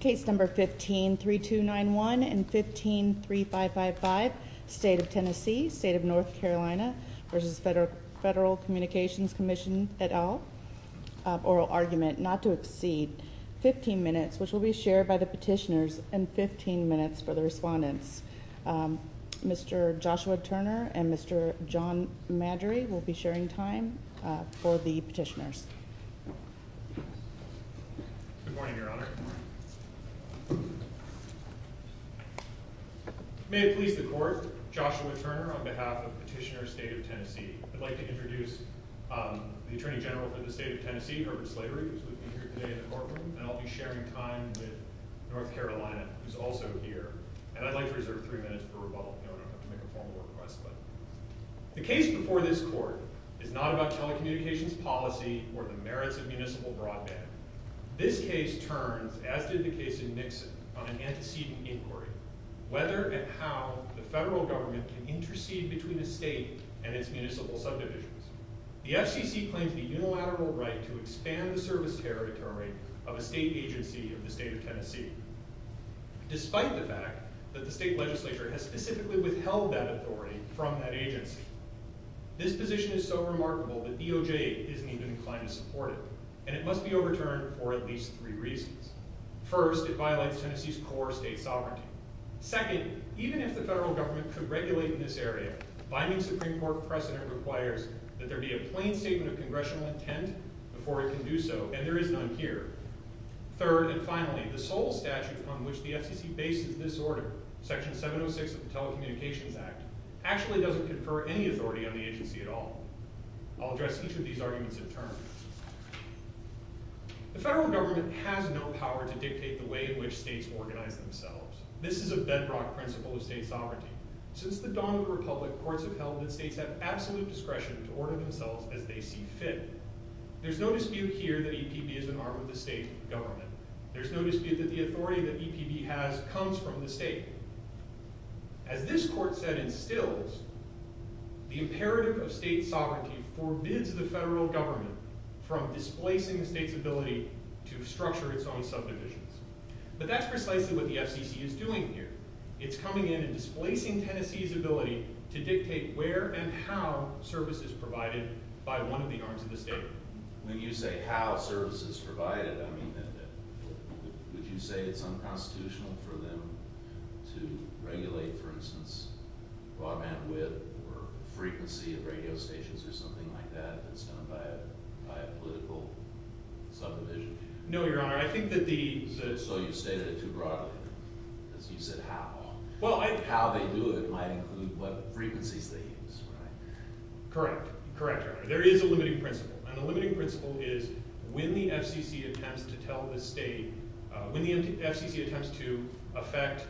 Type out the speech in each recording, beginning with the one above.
Case number 15-3291 and 15-3555 State of Tennessee, State of North Carolina v. Federal Communications Commission et al. Oral argument not to exceed 15 minutes which will be shared by the petitioners and 15 minutes for the respondents. Mr. Joshua Turner and Mr. John Madry will be sharing time for the petitioners. Good morning, Your Honor. May it please the Court, Joshua Turner on behalf of Petitioner State of Tennessee. I'd like to introduce the Attorney General for the State of Tennessee, Herbert Slatery, who will be here today in the courtroom. And I'll be sharing time with North Carolina, who's also here. And I'd like to reserve three minutes for rebuttal. You don't have to make a formal request. The case before this Court is not about telecommunications policy or the merits of municipal broadband. This case turns, as did the case in Nixon, on an antecedent inquiry. Whether and how the federal government can intercede between a state and its municipal subdivisions. The FCC claims the unilateral right to expand the service territory of a state agency of the State of Tennessee. Despite the fact that the state legislature has specifically withheld that authority from that agency. This position is so remarkable that DOJ isn't even inclined to support it. And it must be overturned for at least three reasons. First, it violates Tennessee's core state sovereignty. Second, even if the federal government could regulate in this area, binding Supreme Court precedent requires that there be a plain statement of congressional intent before it can do so, and there is none here. Third, and finally, the sole statute on which the FCC bases this order, Section 706 of the Telecommunications Act, actually doesn't confer any authority on the agency at all. I'll address each of these arguments in turn. The federal government has no power to dictate the way in which states organize themselves. This is a bedrock principle of state sovereignty. Since the dawn of the republic, courts have held that states have absolute discretion to order themselves as they see fit. There's no dispute here that EPB is an arm of the state government. There's no dispute that the authority that EPB has comes from the state. As this court set instills, the imperative of state sovereignty forbids the federal government from displacing the state's ability to structure its own subdivisions. But that's precisely what the FCC is doing here. It's coming in and displacing Tennessee's ability to dictate where and how service is provided by one of the arms of the state. When you say how service is provided, I mean, would you say it's unconstitutional for them to regulate, for instance, broad bandwidth or frequency of radio stations or something like that that's done by a political subdivision? No, Your Honor. I think that the… So you've stated it too broadly. You said how. Well, I… How they do it might include what frequencies they use, right? Correct. Correct, Your Honor. There is a limiting principle, and the limiting principle is when the FCC attempts to tell the state, when the FCC attempts to affect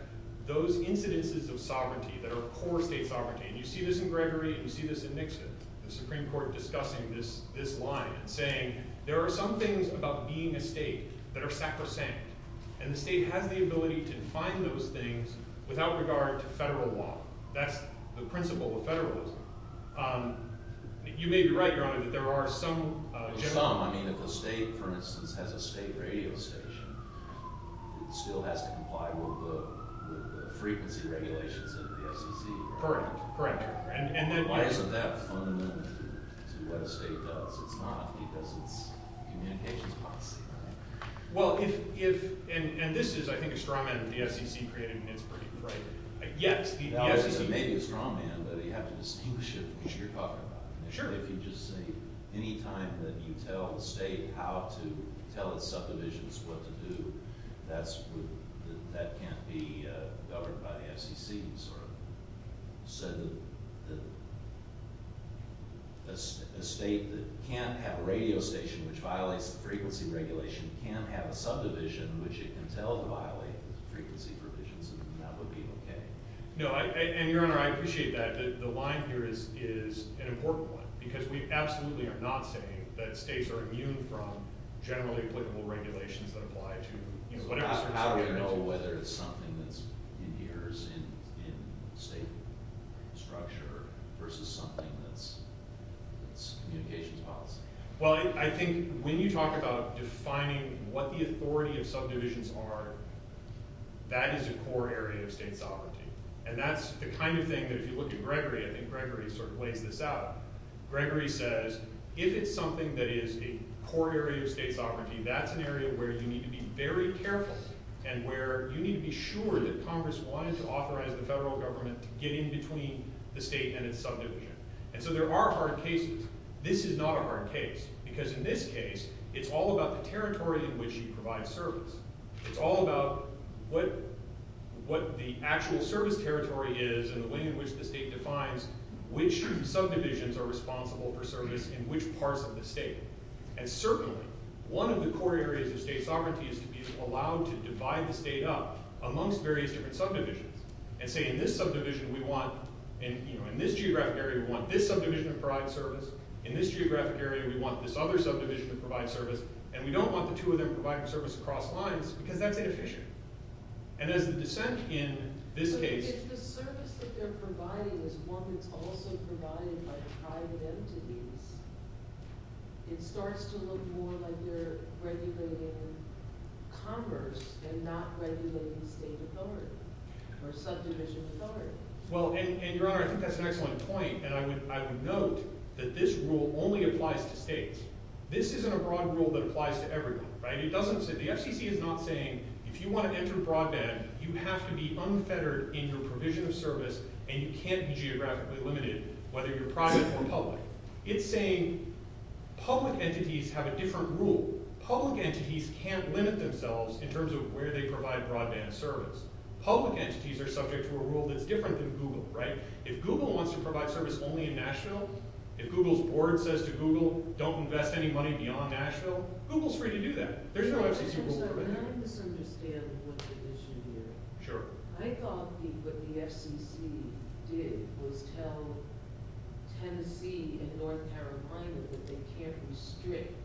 those incidences of sovereignty that are core state sovereignty, and you see this in Gregory and you see this in Nixon, the Supreme Court discussing this line and saying there are some things about being a state that are sacrosanct, and the state has the ability to define those things without regard to federal law. That's the principle of federalism. You may be right, Your Honor, that there are some… Some. I mean, if a state, for instance, has a state radio station, it still has to comply with the frequency regulations of the FCC. Correct. Correct. And then… Why isn't that fundamental to what a state does? It's not because it's communications policy, right? Well, if… and this is, I think, a strongman of the FCC created in Pittsburgh, right? Yes, the FCC… Sure. No, and Your Honor, I appreciate that. The line here is an important one, because we absolutely are not saying that states are immune from generally applicable regulations that apply to, you know, whatever… So how do we know whether it's something that's in here, in state structure, versus something that's communications policy? Well, I think when you talk about defining what the authority of subdivisions are, that is a core area of state sovereignty. And that's the kind of thing that, if you look at Gregory, I think Gregory sort of lays this out. Gregory says, if it's something that is a core area of state sovereignty, that's an area where you need to be very careful and where you need to be sure that Congress wanted to authorize the federal government to get in between the state and its subdivision. And so there are hard cases. This is not a hard case, because in this case, it's all about the territory in which you provide service. It's all about what the actual service territory is and the way in which the state defines which subdivisions are responsible for service in which parts of the state. And certainly, one of the core areas of state sovereignty is to be allowed to divide the state up amongst various different subdivisions. And say, in this subdivision, we want… In this geographic area, we want this subdivision to provide service. In this geographic area, we want this other subdivision to provide service. And we don't want the two of them providing service across lines, because that's inefficient. And as the dissent in this case… But if the service that they're providing is one that's also provided by private entities, it starts to look more like they're regulating Congress and not regulating state authority or subdivision authority. Well, and, Your Honor, I think that's an excellent point. This isn't a broad rule that applies to everyone. The FCC is not saying if you want to enter broadband, you have to be unfettered in your provision of service and you can't be geographically limited, whether you're private or public. It's saying public entities have a different rule. Public entities can't limit themselves in terms of where they provide broadband service. Public entities are subject to a rule that's different than Google. If Google wants to provide service only in Nashville, if Google's board says to Google, don't invest any money beyond Nashville, Google's free to do that. There's no FCC rule for that. I just don't understand what the issue here is. Sure. I thought that what the FCC did was tell Tennessee and North Carolina that they can't restrict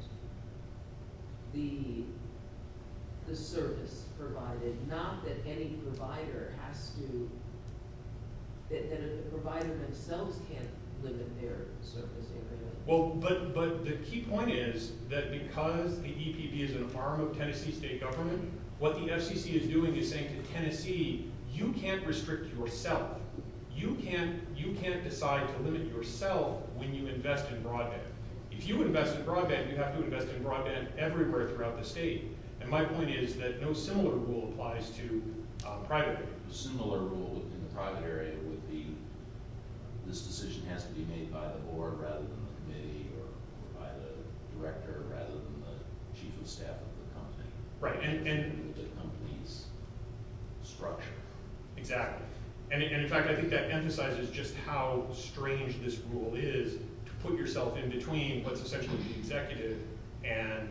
the service provided, not that any provider has to – that the provider themselves can't limit their service area. Well, but the key point is that because the EPP is an arm of Tennessee state government, what the FCC is doing is saying to Tennessee, you can't restrict yourself. You can't decide to limit yourself when you invest in broadband. If you invest in broadband, you have to invest in broadband everywhere throughout the state. My point is that no similar rule applies to private areas. A similar rule in the private area would be this decision has to be made by the board rather than the committee or by the director rather than the chief of staff of the company. Right. The company's structure. Exactly. In fact, I think that emphasizes just how strange this rule is to put yourself in between what's essentially the executive and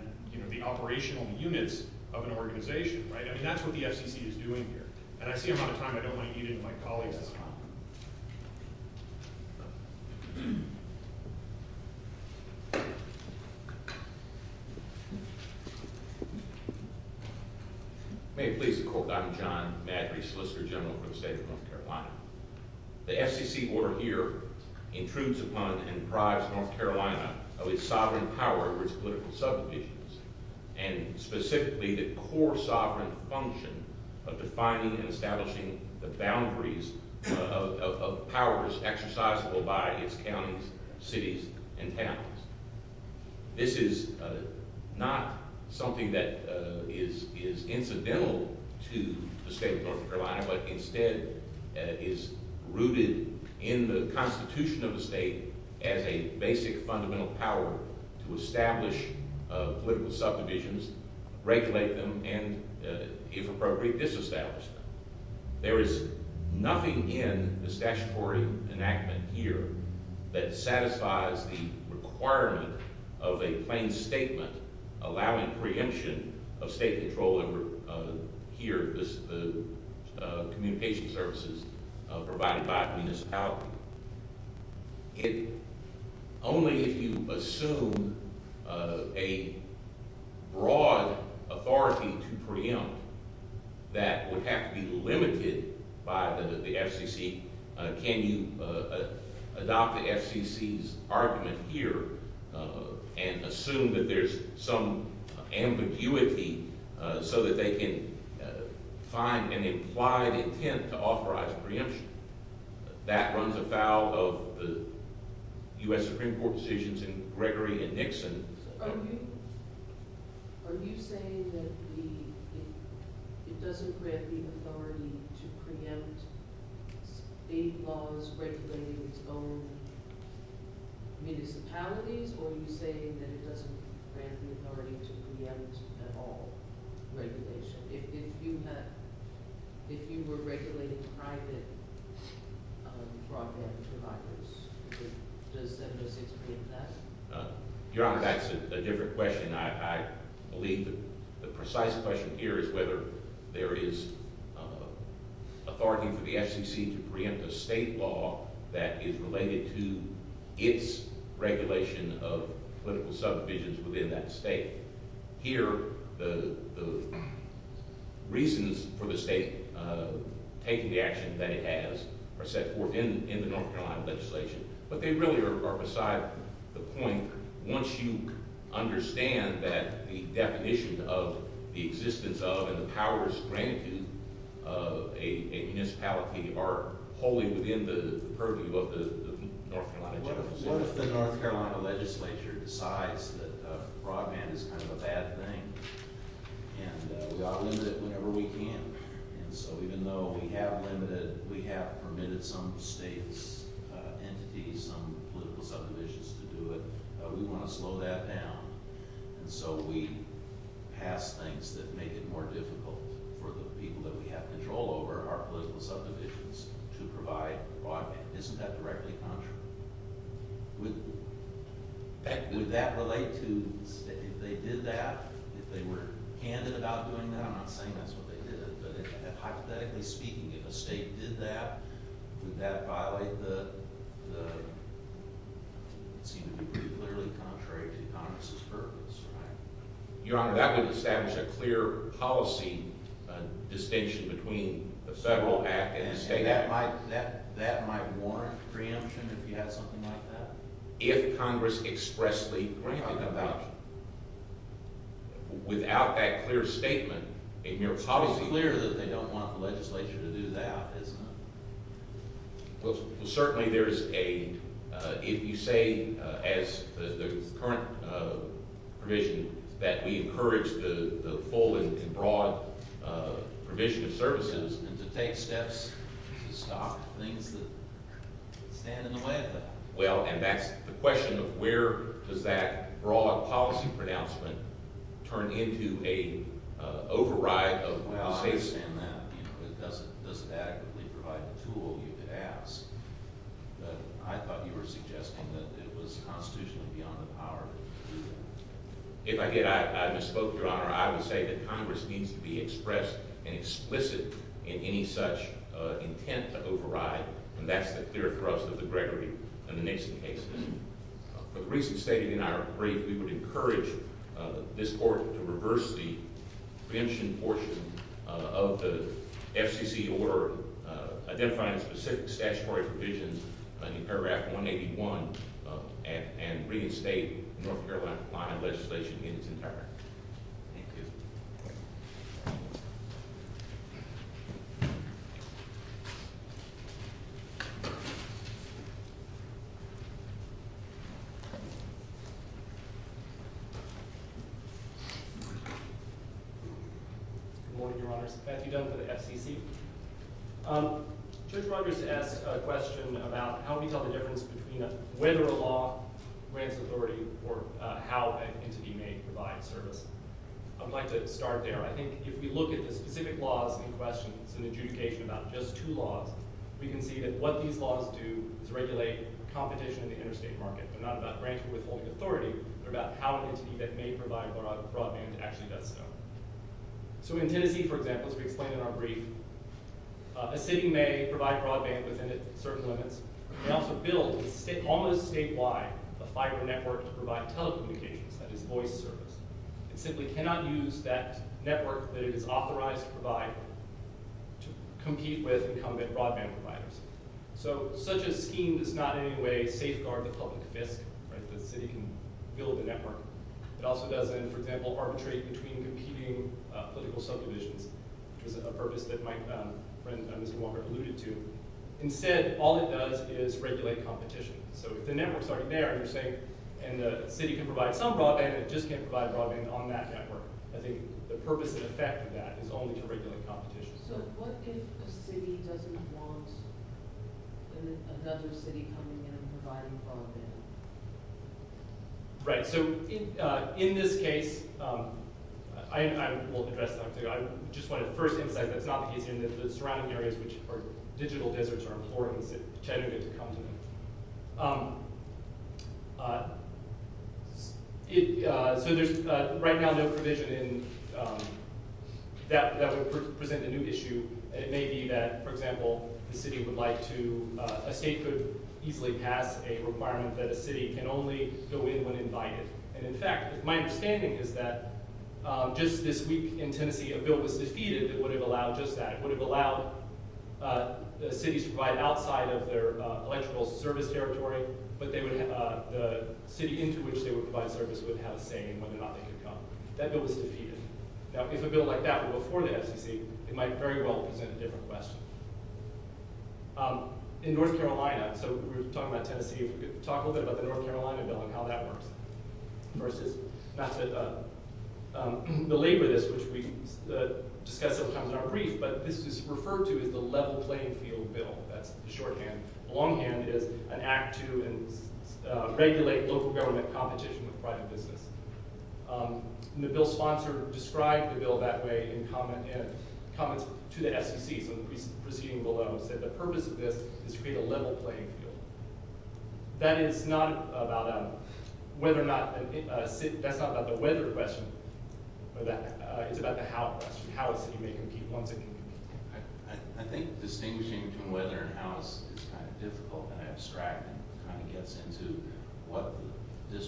the operational units of an organization, right? I mean, that's what the FCC is doing here. And I see I'm out of time. I don't want to eat into my colleagues' time. May it please the court. I'm John Maddrey, Solicitor General for the state of North Carolina. The FCC order here intrudes upon and prides North Carolina of its sovereign power over its political subdivisions and specifically the core sovereign function of defining and establishing the boundaries of powers exercisable by its counties, cities, and towns. This is not something that is incidental to the state of North Carolina, but instead is rooted in the constitution of the state as a basic fundamental power to establish political subdivisions, regulate them, and if appropriate, disestablish them. There is nothing in this statutory enactment here that satisfies the requirement of a plain statement allowing preemption of state control over here, the communication services provided by the municipality. Only if you assume a broad authority to preempt that would have to be limited by the FCC. Can you adopt the FCC's argument here and assume that there's some ambiguity so that they can find an implied intent to authorize preemption? That runs afoul of U.S. Supreme Court decisions in Gregory and Nixon. Are you saying that it doesn't grant the authority to preempt state laws regulating its own municipalities or are you saying that it doesn't grant the authority to preempt at all regulation? If you were regulating private broadband providers, does 706 preempt that? Your Honor, that's a different question. I believe the precise question here is whether there is authority for the FCC to preempt a state law that is related to its regulation of political subdivisions within that state. Here, the reasons for the state taking the action that it has are set forth in the North Carolina legislation. But they really are beside the point once you understand that the definition of the existence of and the powers granted to a municipality are wholly within the purview of the North Carolina General Assembly. What if the North Carolina legislature decides that broadband is kind of a bad thing and we ought to limit it whenever we can? And so even though we have limited, we have permitted some states' entities, some political subdivisions to do it, we want to slow that down. And so we pass things that make it more difficult for the people that we have control over, our political subdivisions, to provide broadband. Isn't that directly contrary? Would that relate to, if they did that, if they were candid about doing that, I'm not saying that's what they did, but hypothetically speaking, if a state did that, would that violate the, it seems to be pretty clearly contrary to Congress' purpose, right? Your Honor, that would establish a clear policy distinction between the federal act and the state act. And that might warrant preemption if you had something like that? If Congress expressly granted a voucher. Without that clear statement, a mere policy… It's obviously clear that they don't want the legislature to do that, isn't it? Well, certainly there is a, if you say as the current provision that we encourage the full and broad provision of services and to take steps to stop things that stand in the way of that. Well, and that's the question of where does that broad policy pronouncement turn into an override of… Well, I understand that. It doesn't adequately provide the tool you could ask. But I thought you were suggesting that it was constitutionally beyond the power to do that. If I did, I misspoke, Your Honor. I would say that Congress needs to be expressed and explicit in any such intent to override, and that's the clear thrust of the Gregory and the Nason cases. But the reason stated in our brief, we would encourage this court to reverse the preemption portion of the FCC order, identifying specific statutory provisions in paragraph 181 and reinstate North Carolina law and legislation in its entirety. Thank you. Good morning, Your Honors. Matthew Dunn for the FCC. Judge Rogers asked a question about how we tell the difference between whether a law grants authority or how an entity may provide service. I would like to start there. I think if we look at the specific laws in question, it's an adjudication about just two laws. We can see that what these laws do is regulate competition in the interstate market. They're not about granting or withholding authority. They're about how an entity that may provide broadband actually does so. So in Tennessee, for example, as we explained in our brief, a city may provide broadband within its certain limits. It can also build, almost statewide, a fiber network to provide telecommunications, that is voice service. It simply cannot use that network that it is authorized to provide to compete with and combat broadband providers. So such a scheme does not in any way safeguard the public fisc that the city can build a network. It also doesn't, for example, arbitrate between competing political subdivisions, which is a purpose that my friend Mr. Walker alluded to. Instead, all it does is regulate competition. So if the network is already there, and you're saying the city can provide some broadband, it just can't provide broadband on that network. I think the purpose and effect of that is only to regulate competition. So what if a city doesn't want another city coming in and providing broadband? Right. So in this case, I will address that. I just want to first emphasize that it's not the case in the surrounding areas, which are digital deserts, are important. So there's right now no provision that would present a new issue. It may be that, for example, a state could easily pass a requirement that a city can only go in when invited. And in fact, my understanding is that just this week in Tennessee, a bill was defeated that would have allowed just that. It would have allowed cities to provide outside of their electrical service territory, but the city into which they would provide service would have a say in whether or not they could come. That bill was defeated. Now, if a bill like that were before the SEC, it might very well present a different question. In North Carolina, so we're talking about Tennessee. If we could talk a little bit about the North Carolina bill and how that works. Versus not to belabor this, which we discuss sometimes in our brief, but this is referred to as the level playing field bill. That's the shorthand. The longhand is an act to regulate local government competition with private business. And the bill's sponsor described the bill that way in comments to the SEC. So the proceeding below said the purpose of this is to create a level playing field. That is not about whether or not, that's not about the whether question. It's about the how question. How a city may compete once it can compete. I think distinguishing between whether and how is kind of difficult and abstract and kind of gets into what the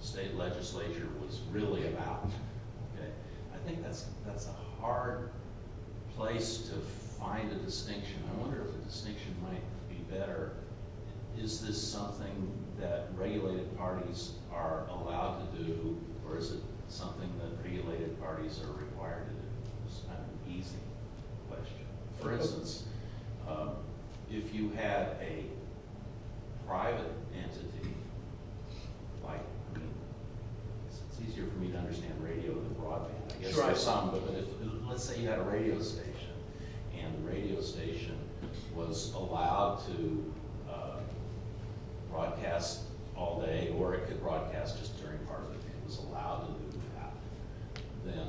state legislature was really about. I think that's a hard place to find a distinction. I wonder if a distinction might be better. Is this something that regulated parties are allowed to do or is it something that regulated parties are required to do? It's kind of an easy question. For instance, if you had a private entity like – it's easier for me to understand radio than broadband. I guess there are some, but let's say you had a radio station and the radio station was allowed to broadcast all day or it could broadcast just during part of the day. If it was allowed to do that, then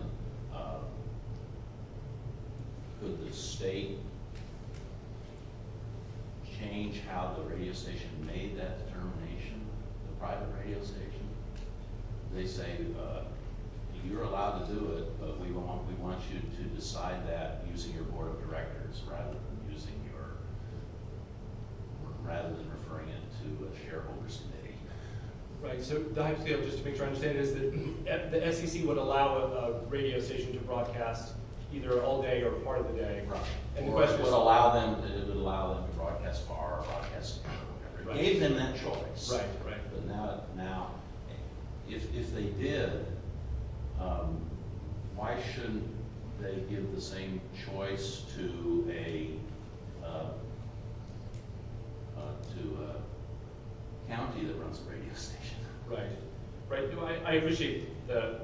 could the state change how the radio station made that determination, the private radio station? They say you're allowed to do it, but we want you to decide that using your board of directors rather than using your – rather than referring it to a shareholder's committee. Right, so to make sure I understand this, the SEC would allow a radio station to broadcast either all day or part of the day. Right. Or it would allow them to broadcast far or broadcast – gave them that choice. Right, right. But now if they did, why shouldn't they give the same choice to a county that runs a radio station? Right, right. I appreciate the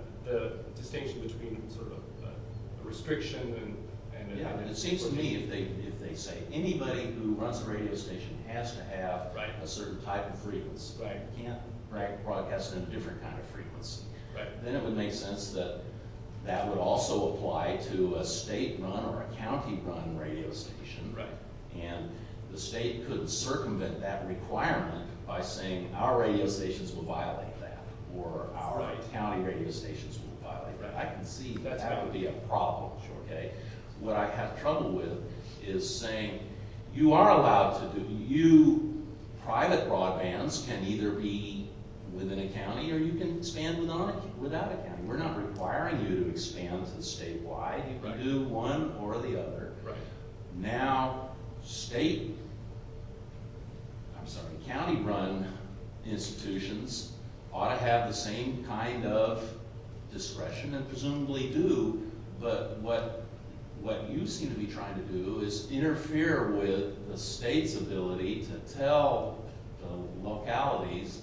distinction between sort of a restriction and – It seems to me if they say anybody who runs a radio station has to have a certain type of frequency. Right. Can't broadcast in a different kind of frequency. Right. Then it would make sense that that would also apply to a state-run or a county-run radio station. Right. And the state could circumvent that requirement by saying our radio stations will violate that or our county radio stations will violate that. Right. I can see that that would be a problem. Sure. Okay. What I have trouble with is saying you are allowed to do – you – private broadbands can either be within a county or you can expand without a county. We're not requiring you to expand to statewide. Right. You can do one or the other. Right. Now state – I'm sorry – county-run institutions ought to have the same kind of discretion and presumably do. But what you seem to be trying to do is interfere with the state's ability to tell the localities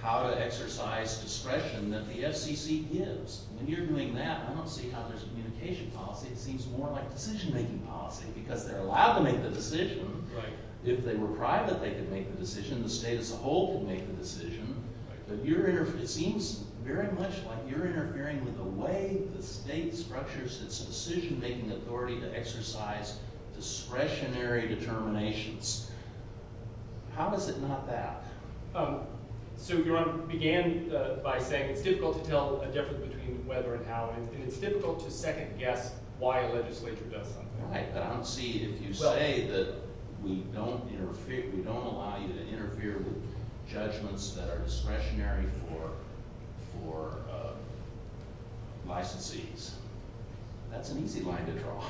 how to exercise discretion that the FCC gives. When you're doing that, I don't see how there's communication policy. It seems more like decision-making policy because they're allowed to make the decision. Right. If they were private, they could make the decision. The state as a whole could make the decision. Right. But you're – it seems very much like you're interfering with the way the state structures its decision-making authority to exercise discretionary determinations. How is it not that? So you began by saying it's difficult to tell a difference between whether and how, and it's difficult to second-guess why a legislature does something. Right. But I don't see – if you say that we don't allow you to interfere with judgments that are discretionary for licensees, that's an easy line to draw.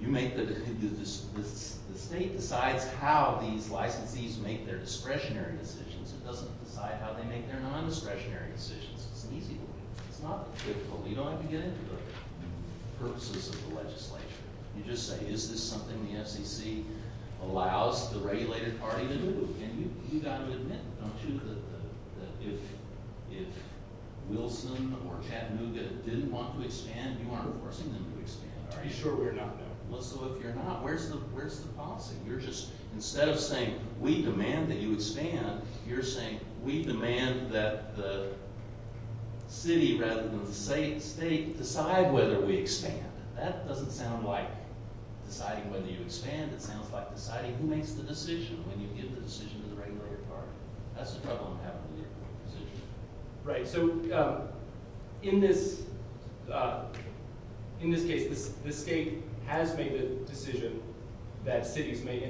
You make the – the state decides how these licensees make their discretionary decisions. It doesn't decide how they make their non-discretionary decisions. It's an easy one. It's not difficult. You don't have to get into the purposes of the legislature. You just say, is this something the FCC allows the regulated party to do? And you've got to admit, don't you, that if Wilson or Chattanooga didn't want to expand, you aren't forcing them to expand, are you? I'd be sure we're not, no. Well, so if you're not, where's the policy? You're just – instead of saying we demand that you expand, you're saying we demand that the city rather than the state decide whether we expand. That doesn't sound like deciding whether you expand. It sounds like deciding who makes the decision when you give the decision to the regulated party. That's the trouble I'm having with your decision. Right. So in this case, the state has made the decision that cities may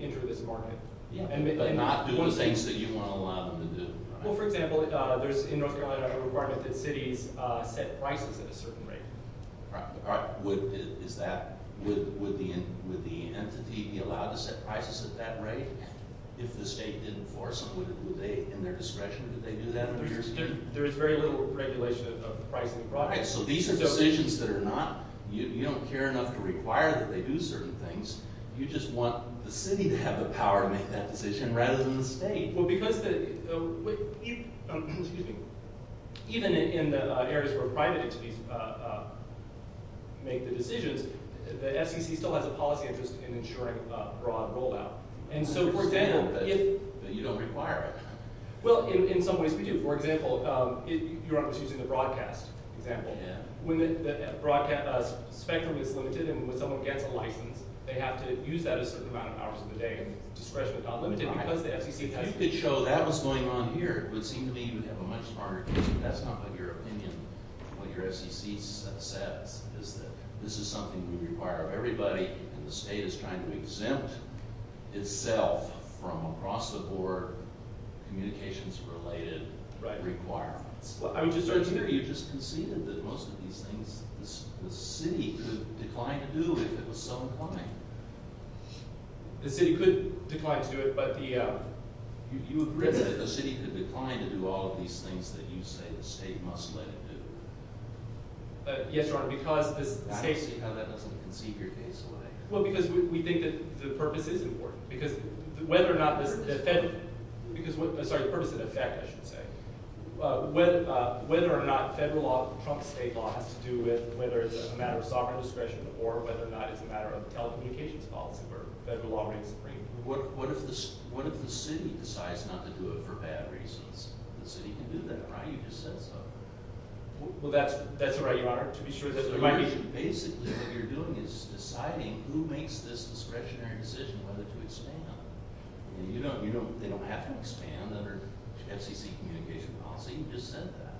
enter this market. Yeah, but not do the things that you want to allow them to do. Well, for example, there's in North Carolina a requirement that cities set prices at a certain rate. Is that – would the entity be allowed to set prices at that rate if the state didn't force them? Would they, in their discretion, would they do that? There is very little regulation of the price of the product. So these are decisions that are not – you don't care enough to require that they do certain things. You just want the city to have the power to make that decision rather than the state. Well, because the – excuse me. Even in the areas where private entities make the decisions, the FCC still has a policy interest in ensuring broad rollout. And so, for example, if – You don't require it. Well, in some ways we do. For example, you're using the broadcast example. When the broadcast spectrum is limited and when someone gets a license, they have to use that a certain amount of hours of the day in discretion but not limited because the FCC doesn't. If you could show that was going on here, it would seem to me you would have a much smarter decision. That's not what your opinion, what your FCC says is that this is something we require of everybody, and the state is trying to exempt itself from across the board communications-related requirements. I mean, to start here, you just conceded that most of these things the city could decline to do if it was so inclined. The city could decline to do it, but the – You agree that the city could decline to do all of these things that you say the state must let it do. Yes, Your Honor, because the state – I don't see how that doesn't concede your case away. Well, because we think that the purpose is important. Because whether or not this – Sorry, the purpose and effect, I should say. Whether or not federal law trumps state law has to do with whether it's a matter of sovereign discretion or whether or not it's a matter of telecommunications policy where federal law reigns supreme. What if the city decides not to do it for bad reasons? The city can do that, right? You just said so. Well, that's right, Your Honor. Basically, what you're doing is deciding who makes this discretionary decision whether to exempt. They don't have to expand under FCC communication policy. You just said that.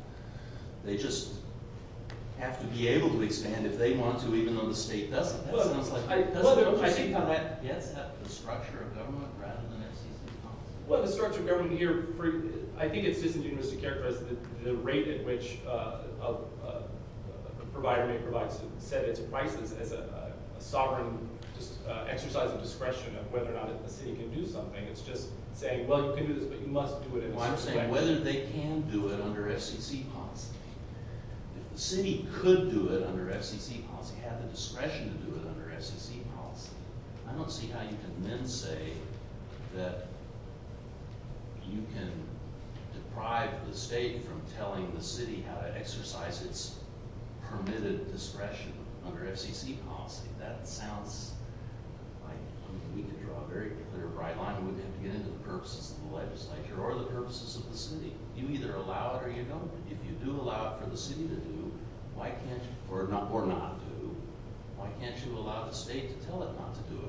They just have to be able to expand if they want to, even though the state doesn't. That sounds like – I think that gets at the structure of government rather than FCC policy. Well, the structure of government here – I think it's disingenuous to characterize the rate at which a provider may set its prices as a sovereign exercise of discretion of whether or not the city can do something. It's just saying, well, you can do this, but you must do it in a certain way. Well, I'm saying whether they can do it under FCC policy. If the city could do it under FCC policy, have the discretion to do it under FCC policy, I don't see how you can then say that you can deprive the state from telling the city how to exercise its permitted discretion under FCC policy. That sounds like – we could draw a very clear, bright line. We'd have to get into the purposes of the legislature or the purposes of the city. You either allow it or you don't. If you do allow it for the city to do, or not do, why can't you allow the state to tell it not to do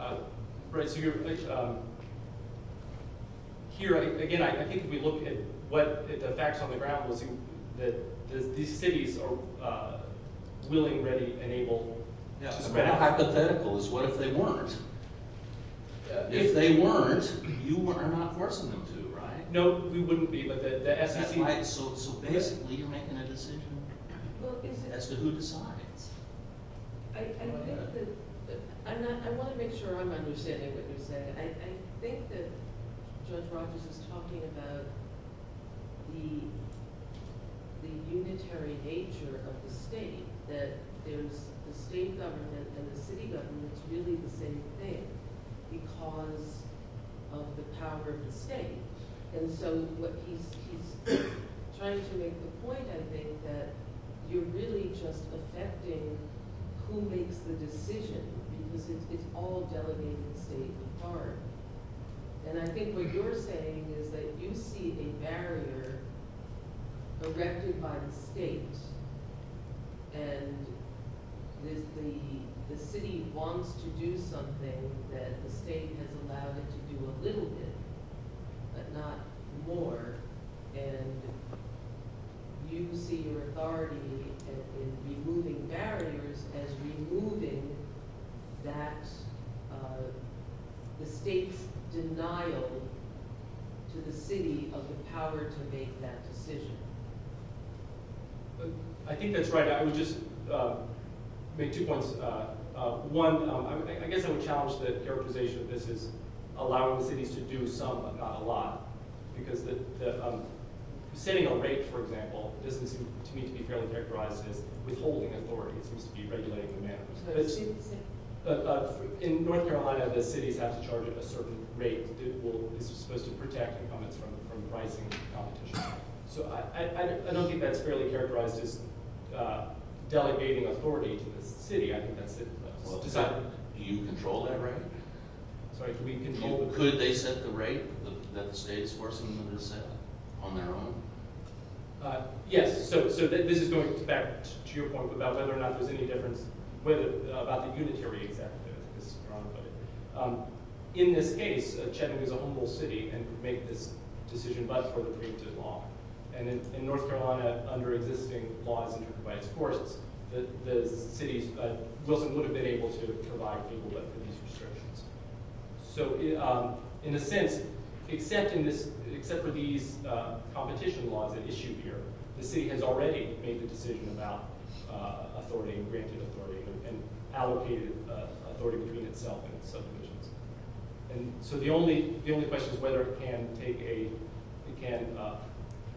it? Right, so you're – here, again, I think if we look at the facts on the ground, we'll see that these cities are willing, ready, and able to spread out. The hypothetical is what if they weren't? If they weren't, you are not forcing them to, right? No, we wouldn't be, but the FCC – So basically you're making a decision as to who decides. I think that – I want to make sure I'm understanding what you're saying. I think that Judge Rogers is talking about the unitary nature of the state, that there's the state government and the city government's really the same thing because of the power of the state. And so what he's trying to make the point, I think, that you're really just affecting who makes the decision because it's all delegated state in part. And I think what you're saying is that you see a barrier erected by the state and the city wants to do something that the state has allowed it to do a little bit, but not more, and you see your authority in removing barriers as removing the state's denial to the city of the power to make that decision. I think that's right. I would just make two points. One, I guess I would challenge the characterization of this as allowing cities to do some but not a lot because setting a rate, for example, doesn't seem to me to be fairly characterized as withholding authority. It seems to be regulating the manner. But in North Carolina, the cities have to charge a certain rate. This is supposed to protect incumbents from rising competition. So I don't think that's fairly characterized as delegating authority to the city. Do you control that rate? Could they set the rate that the state is forcing them to set on their own? Yes. So this is going back to your point about whether or not there's any difference about the unitary executive, as Ron put it. In this case, Chattanooga is a humble city and could make this decision by a further preemptive law. And in North Carolina, under existing laws and supervised courts, Wilson would have been able to provide people with these restrictions. So in a sense, except for these competition laws that issue here, the city has already made the decision about authority and granted authority and allocated authority between itself and subdivisions. So the only question is whether it can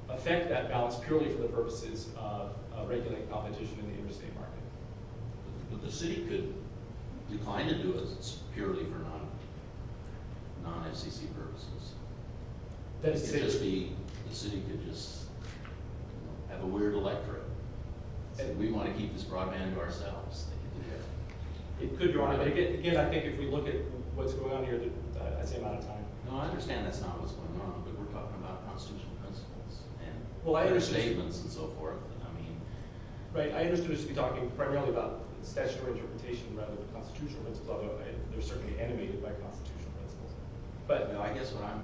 affect that balance purely for the purposes of regulating competition in the interstate market. But the city could decline to do it purely for non-FCC purposes. It could just be the city could just have a weird electorate and we want to keep this broadband to ourselves. It could, Your Honor. Again, I think if we look at what's going on here, that's the amount of time. No, I understand that's not what's going on, but we're talking about constitutional principles. Well, I understand. Statements and so forth. Right, I understand we should be talking primarily about statutory interpretation rather than constitutional principles, although they're certainly animated by constitutional principles. But I guess what I'm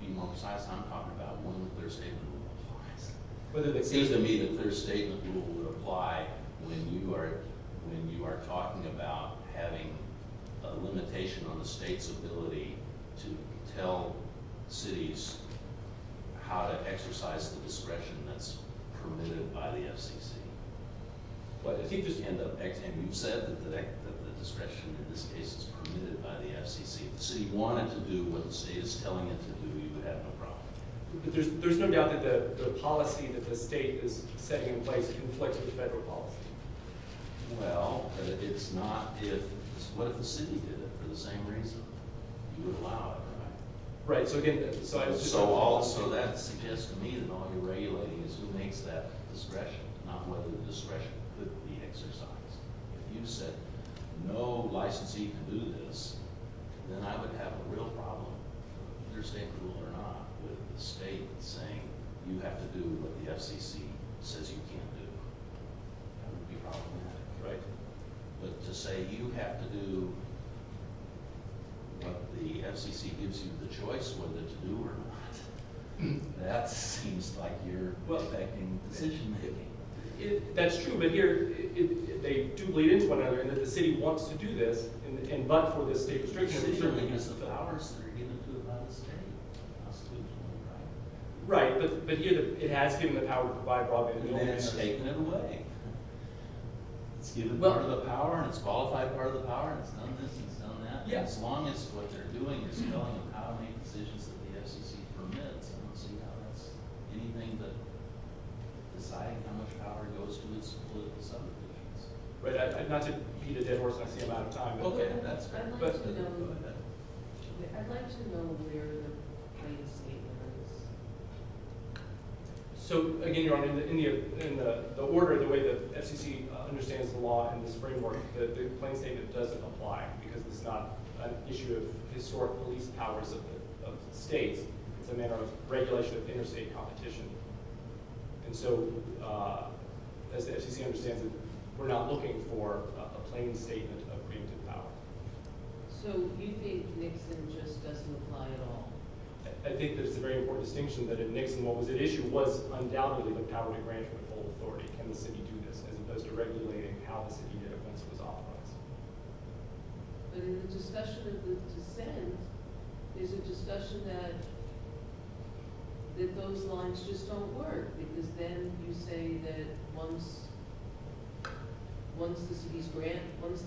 being more precise and I'm talking about when the Third Statement Rule applies. It seems to me the Third Statement Rule would apply when you are talking about having a limitation on the state's ability to tell cities how to exercise the discretion that's permitted by the FCC. But if you just end up, and you've said that the discretion in this case is permitted by the FCC. If the city wanted to do what the state is telling it to do, you would have no problem. There's no doubt that the policy that the state is setting in place conflicts with the federal policy. Well, but it's not if. What if the city did it for the same reason? You would allow it, right? Right, so again. So that suggests to me that all you're regulating is who makes that discretion, not whether the discretion could be exercised. If you said no licensee can do this, then I would have a real problem, under State Rule or not, with the state saying you have to do what the FCC says you can't do. That would be problematic, right? But to say you have to do what the FCC gives you the choice whether to do or not, that seems like you're affecting the decision-making. That's true, but here, they do bleed into one another, and if the city wants to do this, but for the state restrictions. The city certainly has the powers that are given to it by the state. Right, but yet it has given the power to by-law. And then it's taken it away. It's given part of the power, and it's qualified part of the power, and it's done this and it's done that. As long as what they're doing is telling them how many decisions that the FCC permits, I don't see how that's anything but deciding how much power goes to its political subdivisions. Right, not to beat a dead horse on the amount of time. Okay, that's a good question. I'd like to know where the plain statement is. So, again, Your Honor, in the order, the way the FCC understands the law in this framework, the plain statement doesn't apply because it's not an issue of historical least powers of states. It's a matter of regulation of interstate competition. And so, as the FCC understands it, we're not looking for a plain statement of creative power. So you think Nixon just doesn't apply at all? I think there's a very important distinction that if Nixon, what was at issue was undoubtedly the power to grant full authority. Can the city do this? As opposed to regulating how the city did it once it was authorized. But in the discussion of the dissent, there's a discussion that those lines just don't work because then you say that once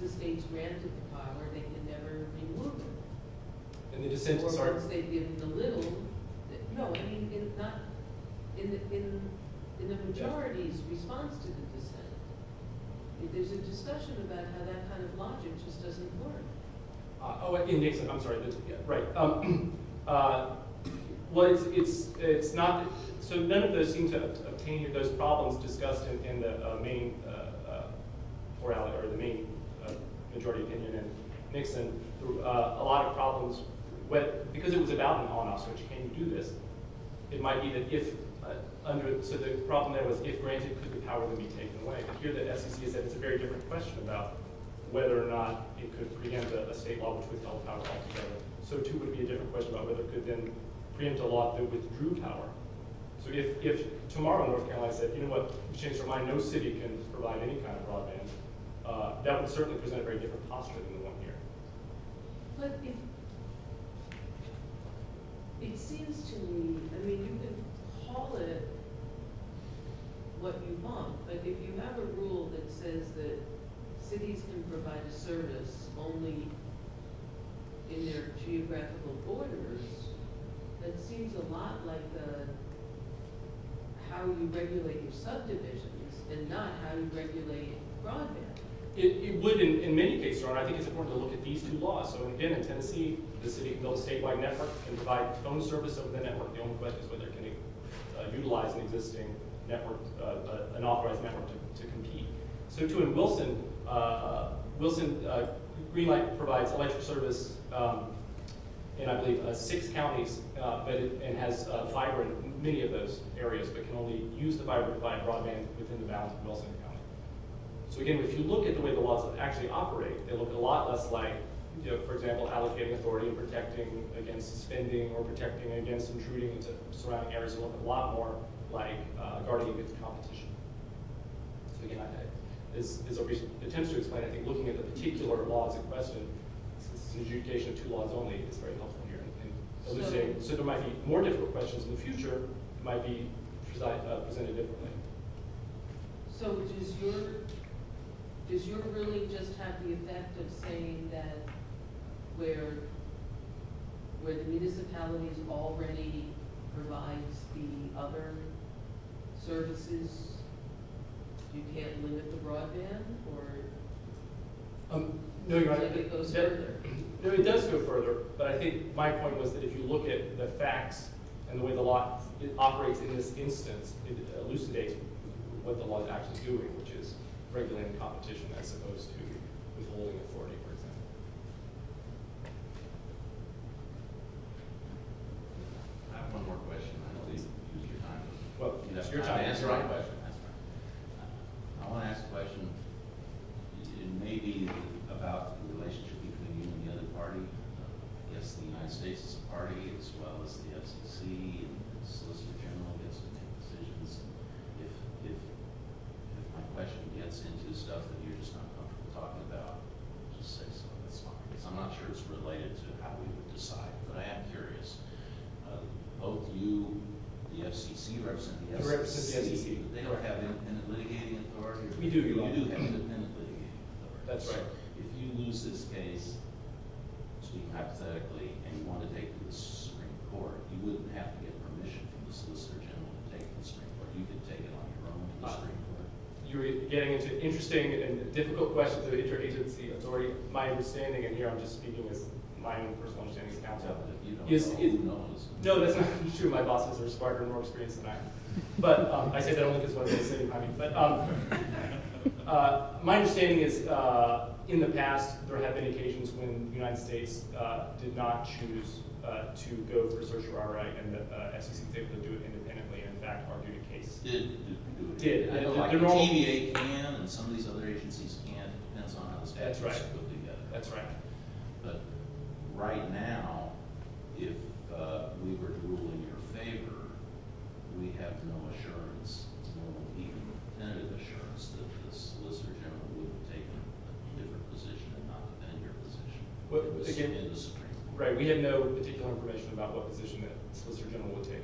the state's granted the power, they can never be moved. In the majority's response to the dissent, there's a discussion about how that kind of logic just doesn't work. Oh, in Nixon, I'm sorry, yeah, right. Well, it's not, so none of those seem to, those problems discussed in the main, the main majority opinion in Nixon through a lot of problems, because it was about an on-off switch. Can you do this? It might be that if under, so the problem there was if granted, could the power be taken away? But here the FCC said it's a very different question about whether or not it could preempt a state law which would tell the power altogether. So too, it would be a different question about whether it could then preempt a law that withdrew power. So if tomorrow North Carolina said, you know what, exchange your mind, no city can provide any kind of broadband, that would certainly present a very different posture than the one here. But if, it seems to me, I mean, you can call it what you want, but if you have a rule that says that cities can provide a service only in their geographical borders, that seems a lot like the, how you regulate your subdivisions and not how you regulate broadband. It would in many cases. I think it's important to look at these two laws. So again, in Tennessee, the city built a statewide network and provide phone service over the network. The only question is whether it can utilize an existing network, an authorized network to compete. So too in Wilson, Greenlight provides electric service in I believe six counties and has fiber in many of those areas but can only use the fiber to provide broadband within the bounds of Wilson County. So again, if you look at the way the laws actually operate, they look a lot less like, for example, allocating authority, protecting against suspending or protecting against intruding into surrounding areas. It looks a lot more like guarding against competition. So again, this is a recent attempt to explain, I think looking at the particular laws in question, since it's an adjudication of two laws only, it's very helpful here. So there might be more difficult questions in the future or it might be presented differently. So does your ruling just have the effect of saying that where the municipalities already provides the other services, you can't limit the broadband or? No, you're right. It goes further. No, it does go further. But I think my point was that if you look at the facts and the way the law operates in this instance, it elucidates what the law is actually doing, which is regulating competition as opposed to withholding authority, for example. I have one more question. I know this is your time. Well, it's your time to answer my question. I want to ask a question. It may be about the relationship between you and the other party. I guess the United States is a party as well as the FCC and the Solicitor General gets to make decisions. If my question gets into stuff that you're just not comfortable talking about, just say so. That's fine. I'm not sure it's related to how we would decide, but I am curious. Both you and the FCC represent the FCC. We represent the FCC. They don't have independent litigating authority. We do. You do have independent litigating authority. That's right. If you lose this case, speak hypothetically, and you want to take it to the Supreme Court, you wouldn't have to get permission from the Solicitor General to take it to the Supreme Court. You could take it on your own to the Supreme Court. You're getting into interesting and difficult questions of interagency authority. My understanding, and here I'm just speaking as my own personal understanding, is out of it. You don't know. No, that's not true. My bosses are smarter and more experienced than I am. But I say that only because that's what they say. My understanding is, in the past, there have been occasions when the United States did not choose to go for certiorari and the FCC was able to do it independently and, in fact, argued a case. Did. Did. I know TVA can and some of these other agencies can't. It depends on how the statute is put together. That's right. But right now, if we were to rule in your favor, we have no assurance, no even tentative assurance, that the Solicitor General would have taken a different position and not defend your position in the Supreme Court. Right. We have no particular information about what position the Solicitor General would take.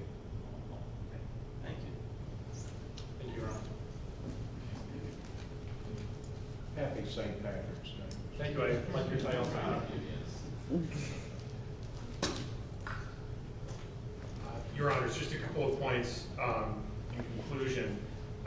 Oh, okay. Thank you. Thank you, Your Honor. Happy to sign your papers. Thank you. Your Honor, it's just a couple of points in conclusion.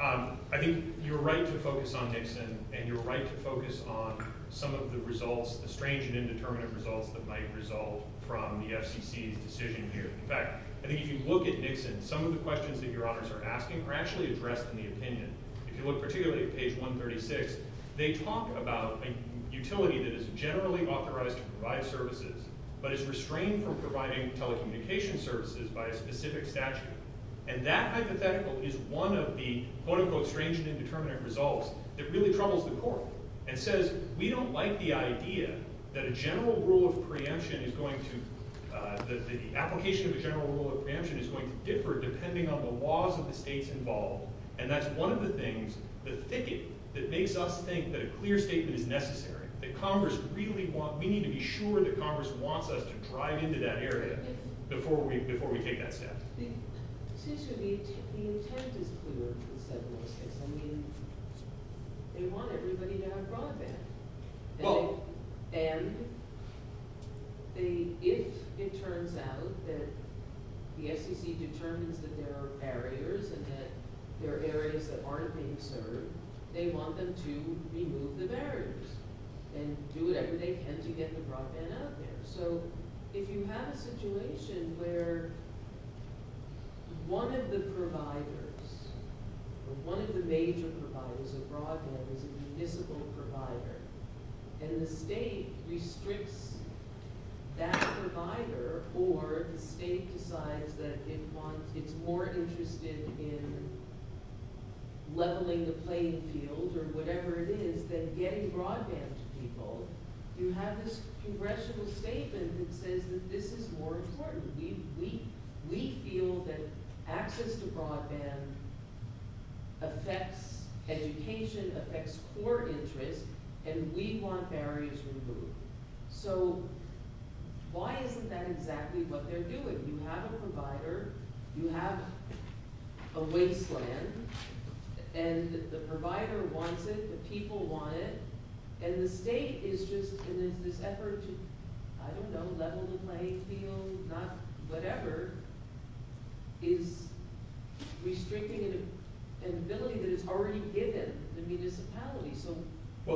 I think you're right to focus on Nixon and you're right to focus on some of the results, the strange and indeterminate results that might result from the FCC's decision here. In fact, I think if you look at Nixon, some of the questions that Your Honors are asking are actually addressed in the opinion. If you look particularly at page 136, they talk about a utility that is generally authorized to provide services but is restrained from providing telecommunications services by a specific statute. And that hypothetical is one of the quote-unquote strange and indeterminate results that really troubles the Court. It says, we don't like the idea that a general rule of preemption is going to, that the application of a general rule of preemption is going to differ depending on the laws of the states involved. And that's one of the things, the thicket that makes us think that a clear statement is necessary, that Congress really wants, we need to be sure that Congress wants us to drive into that area before we take that step. It seems to me the intent is clear, I mean, they want everybody to have broadband. And if it turns out that the SEC determines that there are barriers and that there are areas that aren't being served, they want them to remove the barriers and do whatever they can to get the broadband out there. So if you have a situation where one of the providers, or one of the major providers of broadband is a municipal provider, and the state restricts that provider or the state decides that it wants, it's more interested in leveling the playing field or whatever it is than getting broadband to people, you have this congressional statement that says that this is more important. We feel that access to broadband affects education, affects core interests, and we want barriers removed. So why isn't that exactly what they're doing? You have a provider, you have a wasteland, and the provider wants it, the people want it, and the state is just in this effort to, I don't know, level the playing field, not whatever, is restricting an ability that is already given to municipalities. So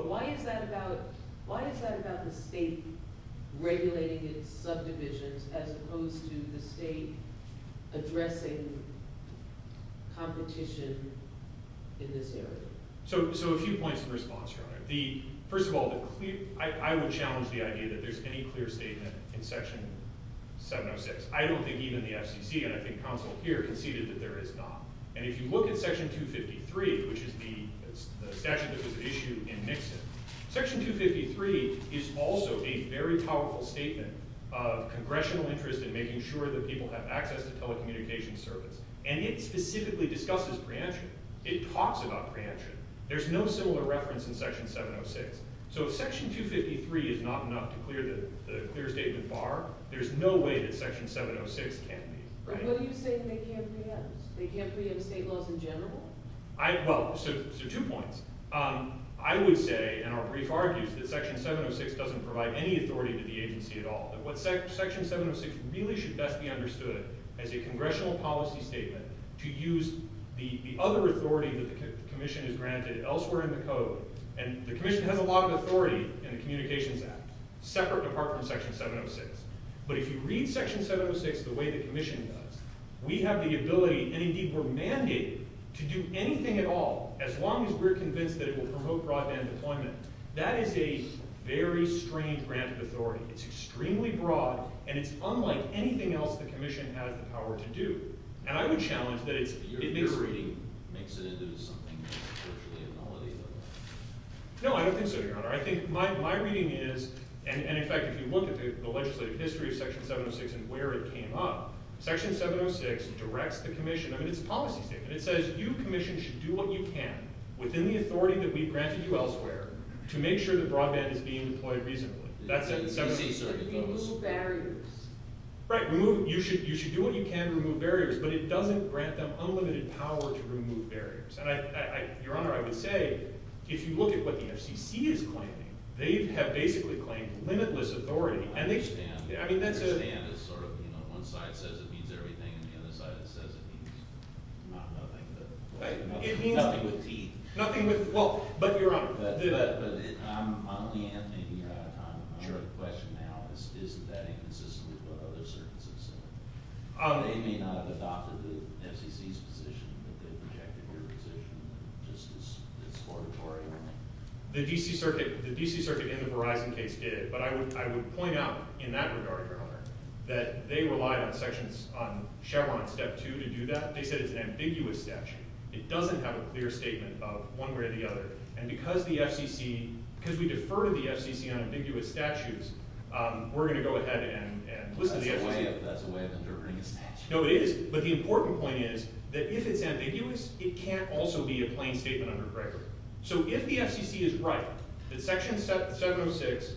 why is that about the state regulating its subdivisions as opposed to the state addressing competition in this area? So a few points of response, Your Honor. First of all, I would challenge the idea that there's any clear statement in Section 706. I don't think even the FCC, and I think counsel here, conceded that there is not. And if you look at Section 253, which is the statute that was issued in Nixon, Section 253 is also a very powerful statement of congressional interest in making sure that people have access to telecommunications service, and it specifically discusses preemption. It talks about preemption. There's no similar reference in Section 706. So if Section 253 is not enough to clear the clear statement bar, there's no way that Section 706 can be. But what do you say that they can't preempt? They can't preempt state laws in general? Well, so two points. I would say, and our brief argues, that Section 706 doesn't provide any authority to the agency at all. Section 706 really should best be understood as a congressional policy statement to use the other authority that the Commission has granted elsewhere in the Code, and the Commission has a lot of authority in the Communications Act, separate apart from Section 706. But if you read Section 706 the way the Commission does, we have the ability, and indeed we're mandated, to do anything at all, as long as we're convinced that it will promote broadband deployment. That is a very strange grant of authority. It's extremely broad, and it's unlike anything else the Commission has the power to do. And I would challenge that it makes... No, I don't think so, Your Honor. I think my reading is... And in fact, if you look at the legislative history of Section 706 and where it came up, Section 706 directs the Commission... I mean, it's a policy statement. It says, you, Commission, should do what you can within the authority that we've granted you elsewhere to make sure that broadband is being deployed reasonably. That's it. You should do what you can to remove barriers, but it doesn't grant them unlimited power to remove barriers. And, Your Honor, I would say if you look at what the FCC is claiming, they have basically claimed limitless authority. I understand. I mean, that's a... I understand it's sort of, you know, one side says it means everything, and the other side says it means not nothing. It means... Nothing with teeth. Nothing with... Well, but, Your Honor... I'm only answering out of time. Sure. My other question now is, isn't that inconsistent with what other circuits have said? They may not have adopted the FCC's position, but they've rejected your position, and it's just...it's auditory. The D.C. Circuit... The D.C. Circuit in the Verizon case did, but I would point out in that regard, Your Honor, that they relied on Sections... on Chevron Step 2 to do that. They said it's an ambiguous statute. It doesn't have a clear statement of one way or the other. And because the FCC... We're going to go ahead and listen to the FCC. That's a way of interpreting a statute. No, it is, but the important point is that if it's ambiguous, it can't also be a plain statement under Gregory. So if the FCC is right that Section 706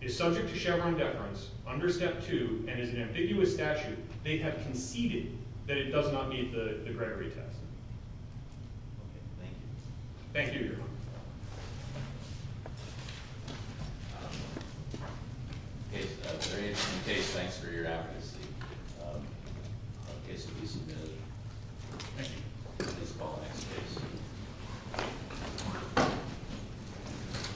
is subject to Chevron deference under Step 2 and is an ambiguous statute, they have conceded that it does not meet the Gregory test. Okay. Thank you. Thank you, Your Honor. Case... Case, thanks for your advocacy. Case will be submitted. Thank you. Please call the next case.